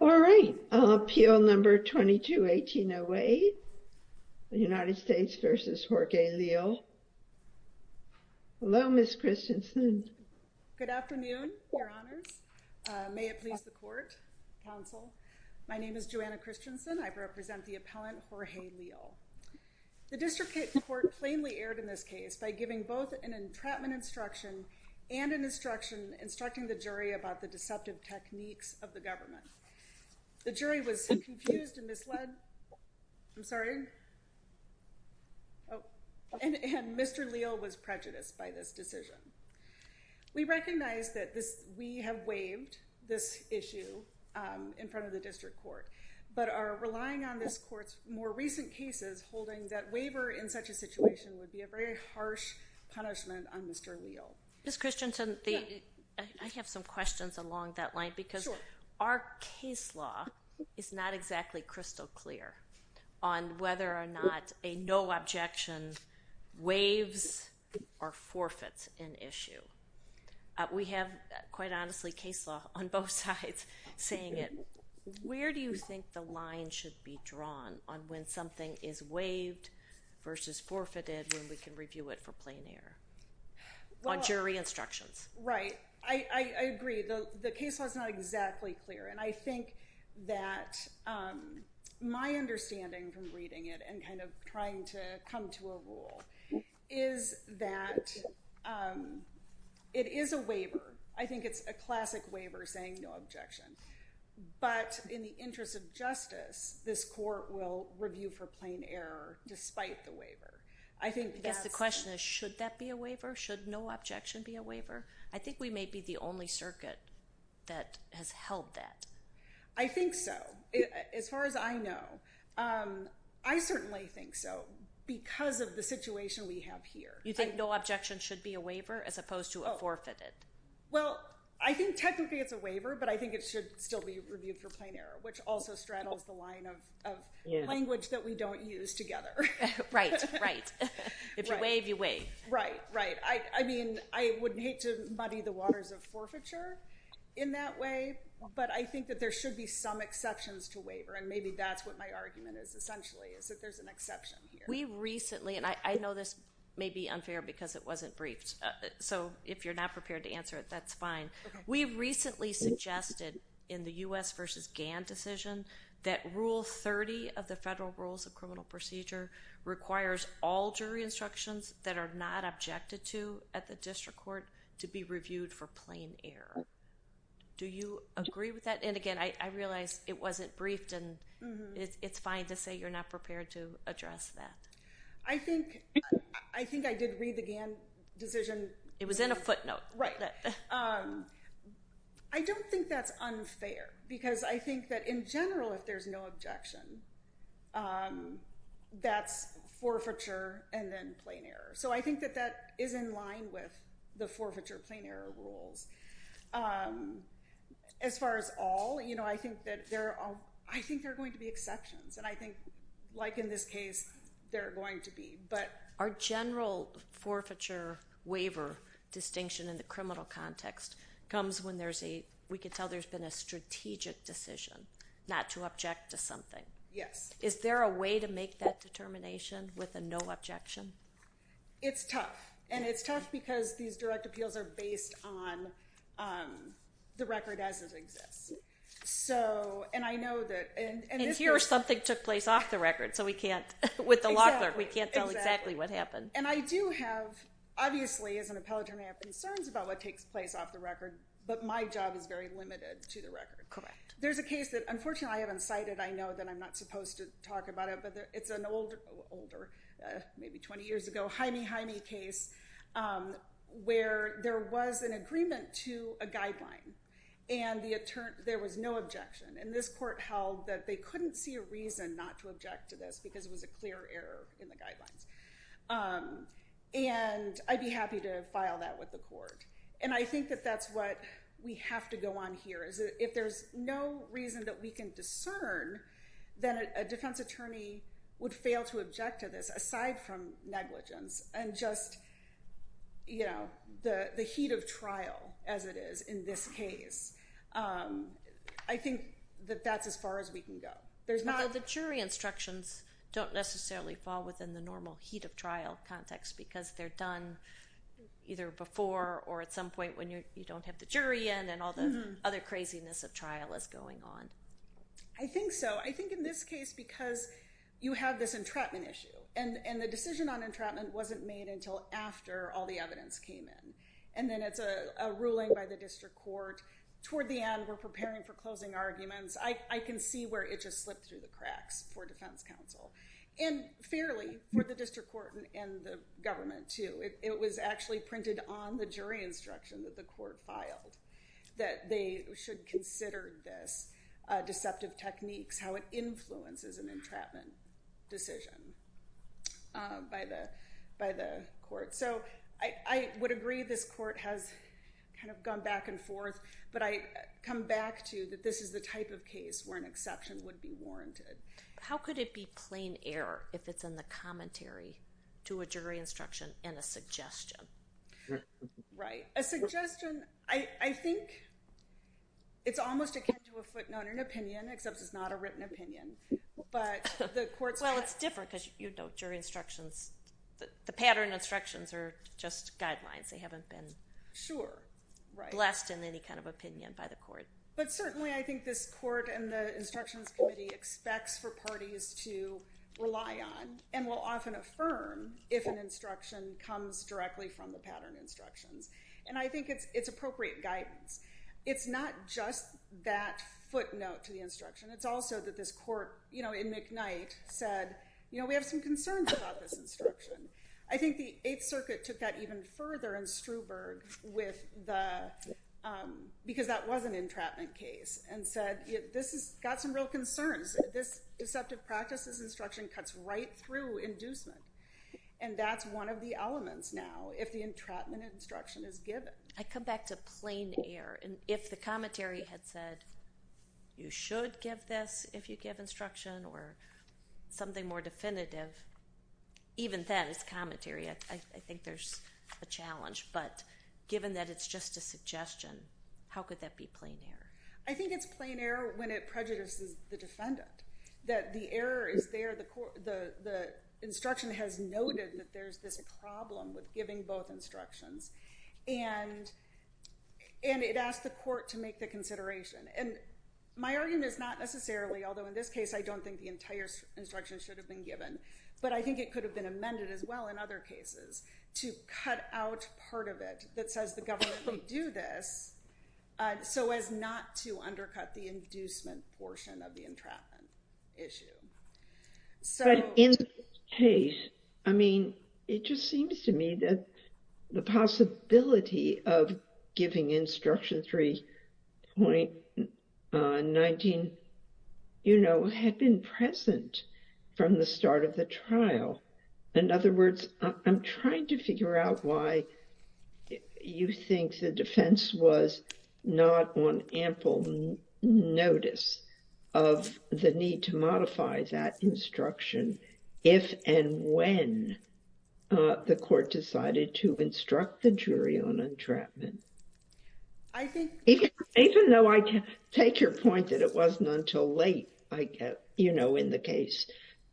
All right, appeal number 221808 United States v. Jorge Leal. Hello, Ms. Christensen. Good afternoon. Your honors, may it please the court, counsel. My name is Joanna Christensen, I represent the appellant, Jorge Leal. The district court plainly erred in this case by giving both an entrapment instruction and an instruction instructing the jury about the deceptive techniques of the government. The jury was confused and misled, I'm sorry, and Mr. Leal was prejudiced by this decision. We recognize that we have waived this issue in front of the district court, but are relying on this court's more recent cases holding that waiver in such a situation would be a very harsh punishment on Mr. Leal. Ms. Christensen, I have some questions along that line because our case law is not exactly crystal clear on whether or not a no objection waives or forfeits an issue. We have, quite honestly, case law on both sides saying it. Where do you think the line should be drawn on when something is waived versus forfeited when we can review it for plain error on jury instructions? Right. I agree. The case law is not exactly clear, and I think that my understanding from reading it and kind of trying to come to a rule is that it is a waiver. I think it's a classic waiver saying no objection, but in the interest of justice, this court will review for plain error despite the waiver. I think that's- I guess the question is, should that be a waiver? Should no objection be a waiver? I think we may be the only circuit that has held that. I think so. As far as I know. I certainly think so because of the situation we have here. You think no objection should be a waiver as opposed to a forfeited? Well, I think technically it's a waiver, but I think it should still be reviewed for plain error, which also straddles the line of language that we don't use together. Right. Right. If you waive, you waive. Right. Right. I mean, I would hate to muddy the waters of forfeiture in that way, but I think that there should be some exceptions to waiver, and maybe that's what my argument is essentially, is that there's an exception here. We recently, and I know this may be unfair because it wasn't briefed, so if you're not prepared to answer it, that's fine. We recently suggested in the U.S. versus Gann decision that Rule 30 of the Federal Rules of Criminal Procedure requires all jury instructions that are not objected to at the district court to be reviewed for plain error. Do you agree with that? And again, I realize it wasn't briefed, and it's fine to say you're not prepared to address that. I think I did read the Gann decision. It was in a footnote. Right. I read it. I don't think that's unfair, because I think that in general, if there's no objection, that's forfeiture and then plain error. So I think that that is in line with the forfeiture plain error rules. As far as all, I think there are going to be exceptions, and I think, like in this case, there are going to be. Our general forfeiture waiver distinction in the criminal context comes when there's a, we can tell there's been a strategic decision not to object to something. Yes. Is there a way to make that determination with a no objection? It's tough, and it's tough because these direct appeals are based on the record as it exists. And I know that... And here, something took place off the record, so we can't, with the law clerk, we can't tell exactly what happened. Exactly. And I do have, obviously, as an appellate attorney, I have concerns about what takes place off the record, but my job is very limited to the record. Correct. There's a case that, unfortunately, I haven't cited. I know that I'm not supposed to talk about it, but it's an old, older, maybe 20 years ago, Jaime Jaime case, where there was an agreement to a guideline, and there was no objection. And this court held that they couldn't see a reason not to object to this, because it was a clear error in the guidelines. And I'd be happy to file that with the court. And I think that that's what we have to go on here, is that if there's no reason that we can discern, then a defense attorney would fail to object to this, aside from negligence and just the heat of trial, as it is in this case. I think that that's as far as we can go. There's not... The objections don't necessarily fall within the normal heat of trial context, because they're done either before or at some point when you don't have the jury in, and all the other craziness of trial is going on. I think so. I think in this case, because you have this entrapment issue, and the decision on entrapment wasn't made until after all the evidence came in, and then it's a ruling by the district court. Toward the end, we're preparing for closing arguments. I can see where it just slipped through the cracks for defense counsel, and fairly for the district court and the government too. It was actually printed on the jury instruction that the court filed, that they should consider this deceptive techniques, how it influences an entrapment decision by the court. So I would agree this court has gone back and forth, but I come back to that this is a type of case where an exception would be warranted. How could it be plain error if it's in the commentary to a jury instruction and a suggestion? Right. A suggestion, I think it's almost akin to a footnote, an opinion, except it's not a written opinion. But the court's... Well, it's different, because you know jury instructions, the pattern instructions are just guidelines. They haven't been... Sure. Right. ...blessed in any kind of opinion by the court. But certainly I think this court and the instructions committee expects for parties to rely on, and will often affirm, if an instruction comes directly from the pattern instructions. And I think it's appropriate guidance. It's not just that footnote to the instruction. It's also that this court, in McKnight, said, we have some concerns about this instruction. I think the Eighth Circuit took that even further in Struberg with the... ...entrapment case, and said, this has got some real concerns. This deceptive practice, this instruction cuts right through inducement. And that's one of the elements now, if the entrapment instruction is given. I come back to plain error. And if the commentary had said, you should give this if you give instruction, or something more definitive, even then, as commentary, I think there's a challenge. But given that it's just a suggestion, how could that be plain error? I think it's plain error when it prejudices the defendant. That the error is there, the instruction has noted that there's this problem with giving both instructions. And it asks the court to make the consideration. And my argument is not necessarily, although in this case I don't think the entire instruction should have been given, but I think it could have been amended as well in other cases, to cut out part of it that says the government can do this, so as not to undercut the inducement portion of the entrapment issue. So... But in this case, I mean, it just seems to me that the possibility of giving instruction 3.19, you know, had been present from the start of the trial. In other words, I'm trying to figure out why you think the defense was not on ample notice of the need to modify that instruction if and when the court decided to instruct the jury on entrapment. I think... Even though I take your point that it wasn't until late, you know, in the case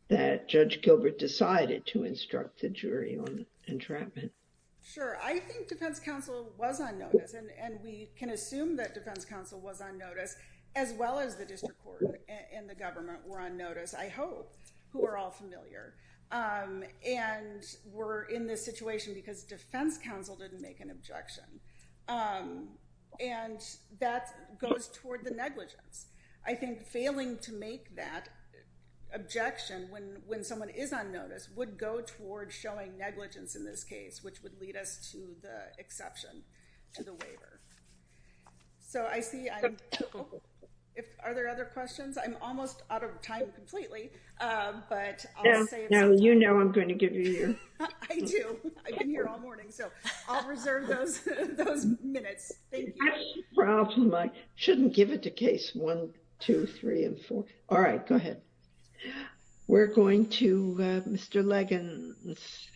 that Judge Gilbert decided to instruct the jury on entrapment. Sure. I think defense counsel was on notice, and we can assume that defense counsel was on notice, as well as the district court and the government were on notice, I hope, who are all familiar, and were in this situation because defense counsel didn't make an objection. And that goes toward the negligence. I think failing to make that objection when someone is on notice would go toward showing negligence in this case, which would lead us to the exception to the waiver. So I see... Are there other questions? I'm almost out of time completely, but I'll say... You know I'm going to give you your... I do. I've been here all morning, so I'll reserve those minutes. Thank you. I have a question. I shouldn't give it to case one, two, three, and four. All right, go ahead. We're going to Mr. Leggins.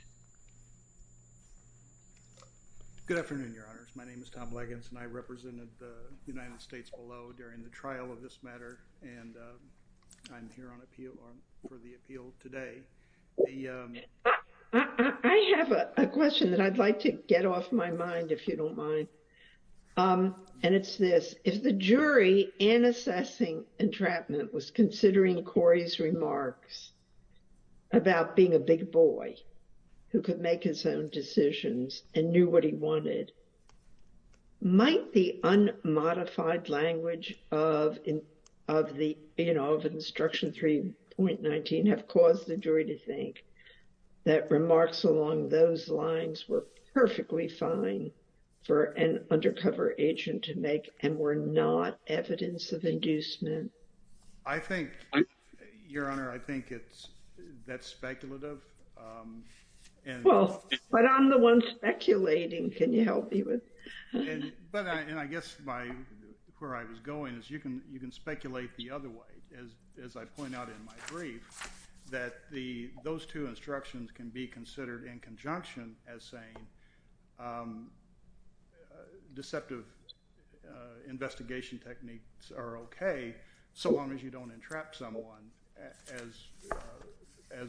Good afternoon, Your Honors. My name is Tom Leggins, and I represented the United States below during the trial of this matter, and I'm here for the appeal today. I have a question that I'd like to get off my mind, if you don't mind. And it's this. If the jury in assessing entrapment was considering Corey's remarks about being a big boy who could make his own decisions and knew what he wanted, might the unmodified language of Instruction 3.19 have caused the jury to think that remarks along those lines were perfectly fine for an undercover agent to make and were not evidence of inducement? I think, Your Honor, I think it's... That's speculative. And... Well, but I'm the one speculating. Can you help me with... And I guess where I was going is you can speculate the other way, as I point out in my brief, that those two instructions can be considered in conjunction as saying deceptive investigation techniques are okay so long as you don't entrap someone, as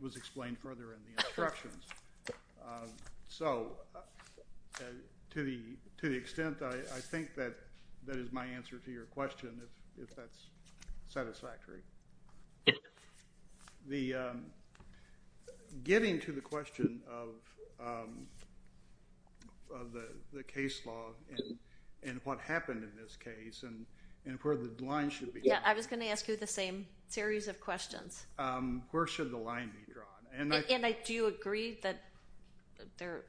was explained further in the instructions. So, to the extent, I think that that is my answer to your question, if that's satisfactory. Yes. The... Getting to the question of the case law and what happened in this case and where the line should be... Yeah, I was going to ask you the same series of questions. Where should the line be drawn? And I... And do you agree that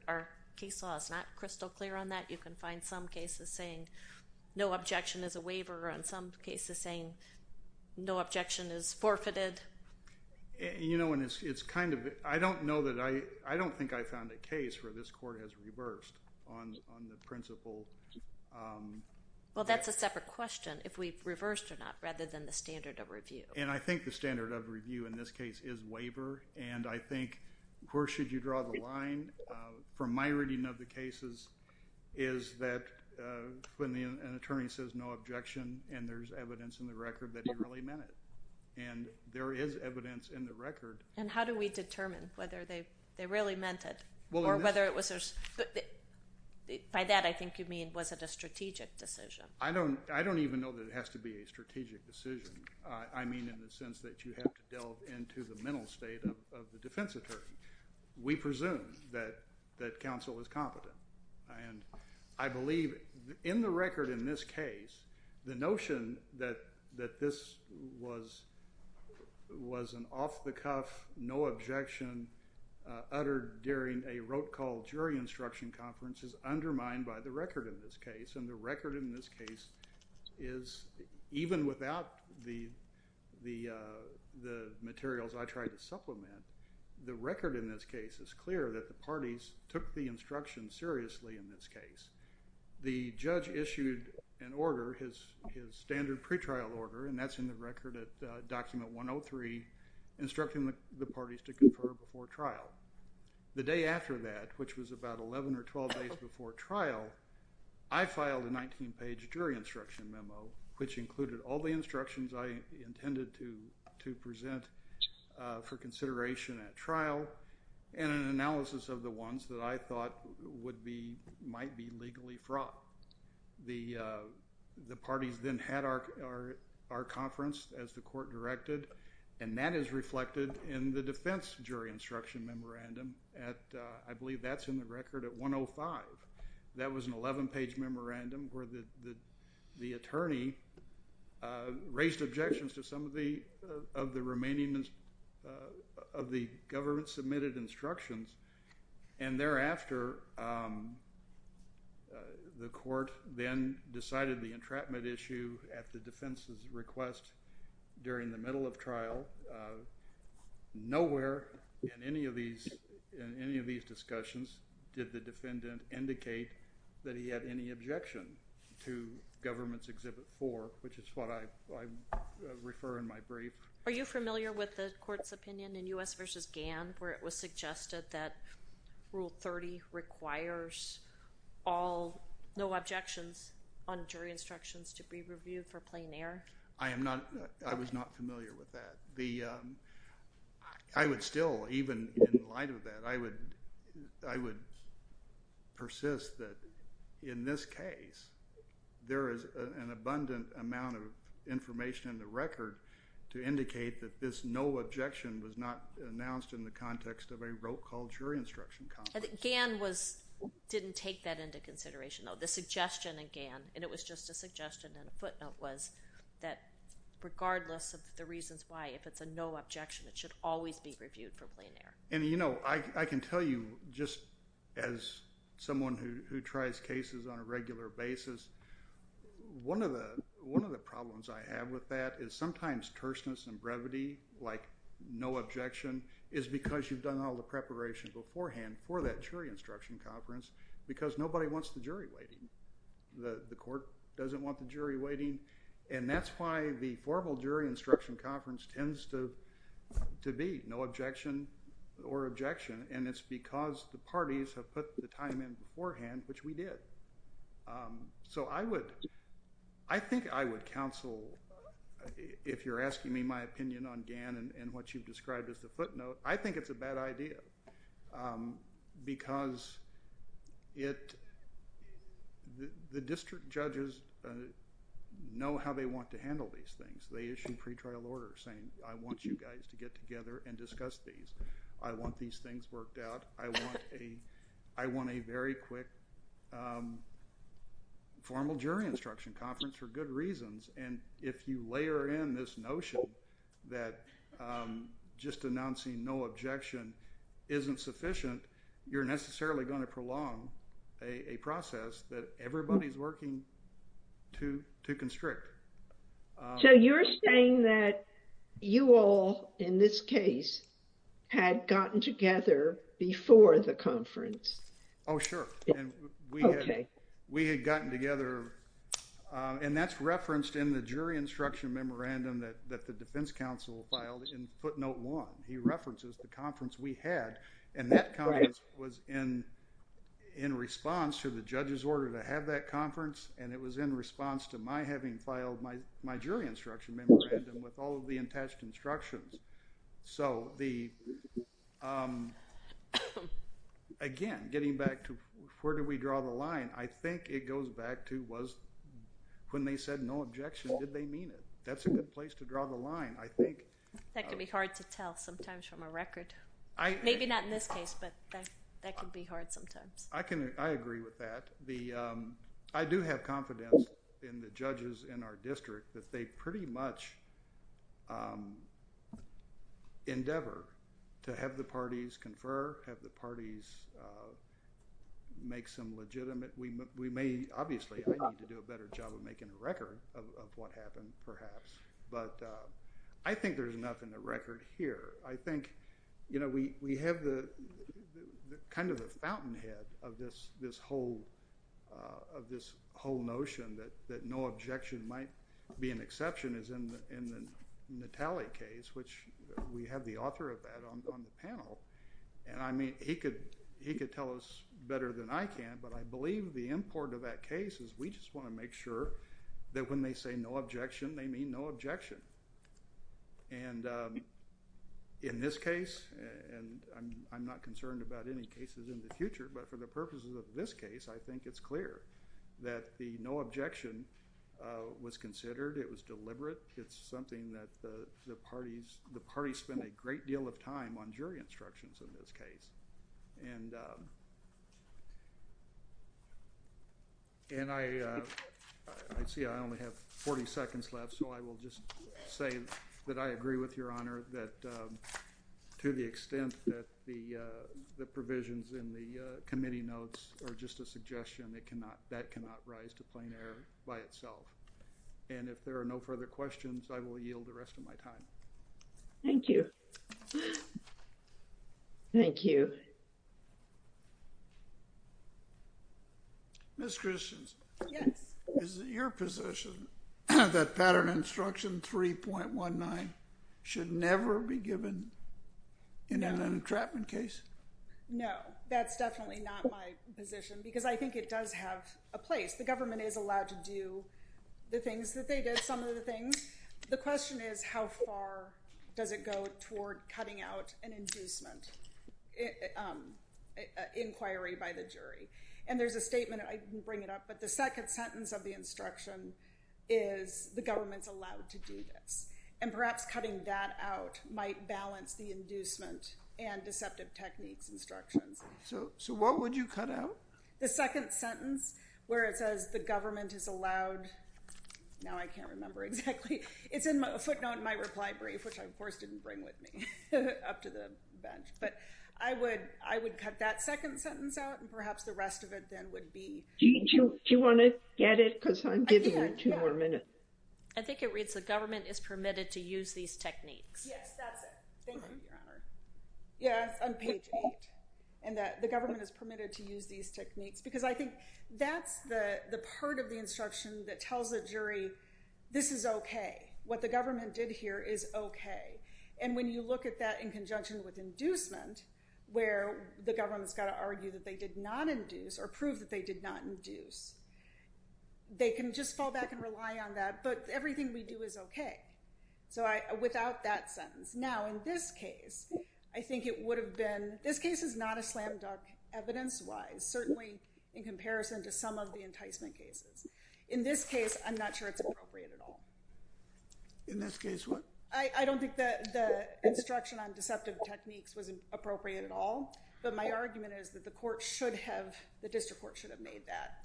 our case law is not crystal clear on that? You can find some cases saying no objection is a waiver and some cases saying no objection is forfeited. You know, and it's kind of... I don't know that I... I don't think I found a case where this court has reversed on the principle... Well, that's a separate question, if we've reversed or not, rather than the standard of review. And I think the standard of review in this case is waiver and I think where should you draw the line from my reading of the cases is that when an attorney says no objection and there's evidence in the record that he really meant it. And there is evidence in the record. And how do we determine whether they really meant it or whether it was... By that, I think you mean was it a strategic decision? I don't even know that it has to be a strategic decision. I mean in the sense that you have to delve into the mental state of the defense attorney. We presume that counsel is competent. And I believe in the record in this case, the notion that this was an off-the-cuff, no objection uttered during a rote call jury instruction conference is undermined by the record in this case. And the record in this case is even without the materials I tried to supplement, the record in this case is clear that the parties took the instruction seriously in this case. The judge issued an order, his standard pretrial order, and that's in the record at document 103 instructing the parties to confer before trial. The day after that, which was about 11 or 12 days before trial, I filed a 19-page jury instruction memo which included all the instructions I intended to present for consideration at trial and an analysis of the ones that I thought might be legally fraught. The parties then had our conference as the court directed, and that is reflected in the I believe that's in the record at 105. That was an 11-page memorandum where the attorney raised objections to some of the remaining of the government-submitted instructions. And thereafter, the court then decided the entrapment issue at the defense's request during the middle of trial. Nowhere in any of these discussions did the defendant indicate that he had any objection to government's Exhibit 4, which is what I refer in my brief. Are you familiar with the court's opinion in U.S. v. Gann where it was suggested that Rule 30 requires all, no objections on jury instructions to be reviewed for plain error? I was not familiar with that. I would still, even in light of that, I would persist that in this case, there is an abundant amount of information in the record to indicate that this no objection was not announced in the context of a rote call jury instruction conference. Gann didn't take that into consideration, though. The suggestion in Gann, and it was just a suggestion and a footnote, was that regardless of the reasons why, if it's a no objection, it should always be reviewed for plain error. And you know, I can tell you, just as someone who tries cases on a regular basis, one of the problems I have with that is sometimes terseness and brevity, like no objection, is because you've done all the preparation beforehand for that jury instruction conference because nobody wants the jury waiting. The court doesn't want the jury waiting, and that's why the formal jury instruction conference tends to be no objection or objection, and it's because the parties have put the time in beforehand, which we did. So, I would, I think I would counsel, if you're asking me my opinion on Gann and what you've because it, the district judges know how they want to handle these things. They issue pre-trial orders saying, I want you guys to get together and discuss these. I want these things worked out. I want a very quick formal jury instruction conference for good reasons, and if you layer in this notion that just announcing no objection isn't sufficient, you're necessarily going to prolong a process that everybody's working to constrict. So, you're saying that you all, in this case, had gotten together before the conference? Oh, sure. Okay. We had gotten together, and that's referenced in the jury instruction memorandum that the defense counsel filed in footnote one. He references the conference we had, and that conference was in response to the judge's order to have that conference, and it was in response to my having filed my jury instruction memorandum with all of the attached instructions. So, again, getting back to where do we draw the line, I think it goes back to when they said no objection, did they mean it? That's a good place to draw the line. I think... That can be hard to tell sometimes from a record. Maybe not in this case, but that can be hard sometimes. I agree with that. I do have confidence in the judges in our district that they pretty much endeavor to have the parties confer, have the parties make some legitimate... We may, obviously, I need to do a better job of making a record of what happened, perhaps, but I think there's enough in the record here. I think we have kind of the fountainhead of this whole notion that no objection might be an exception is in the Natale case, which we have the author of that on the panel, and I mean, he could tell us better than I can, but I believe the import of that case is we just want to make sure that when they say no objection, they mean no objection. And in this case, and I'm not concerned about any cases in the future, but for the purposes of this case, I think it's clear that the no objection was considered. It was deliberate. It's something that the parties spent a great deal of time on jury instructions in this case. And I see I only have 40 seconds left, so I will just say that I agree with Your Honor that to the extent that the provisions in the committee notes are just a suggestion, it cannot, that cannot rise to plain error by itself. And if there are no further questions, I will yield the rest of my time. Thank you. Thank you. Ms. Christians. Yes. Is it your position that pattern instruction 3.19 should never be given in an entrapment case? No, that's definitely not my position because I think it does have a place. The government is allowed to do the things that they did, some of the things. The question is how far does it go toward cutting out an inducement inquiry by the jury? And there's a statement, I didn't bring it up, but the second sentence of the instruction is the government's allowed to do this. And perhaps cutting that out might balance the inducement and deceptive techniques instructions. So what would you cut out? The second sentence where it says the government is allowed, now I can't remember exactly. It's in my footnote in my reply brief, which I of course didn't bring with me up to the bench. But I would, I would cut that second sentence out and perhaps the rest of it then would be. Do you want to get it? Because I'm giving you two more minutes. I think it reads the government is permitted to use these techniques. Yes, that's it. Thank you, Your Honor. Yes, on page eight. And that the government is permitted to use these techniques. Because I think that's the part of the instruction that tells the jury, this is OK. What the government did here is OK. And when you look at that in conjunction with inducement, where the government's got to argue that they did not induce or prove that they did not induce, they can just fall back and rely on that. But everything we do is OK. So without that sentence. Now, in this case, I think it would have been, this case is not a slam dunk evidence wise, certainly in comparison to some of the enticement cases. In this case, I'm not sure it's appropriate at all. In this case, what? I don't think that the instruction on deceptive techniques was appropriate at all. But my argument is that the court should have, the district court should have made that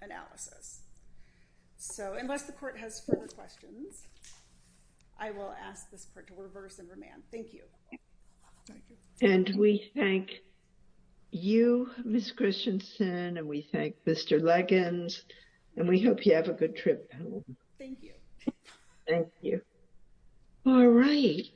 analysis. So unless the court has further questions, I will ask this court to reverse and remand. Thank you. Thank you. And we thank you, Ms. Christensen. And we thank Mr. Leggins. And we hope you have a good trip home. Thank you. Thank you. All right.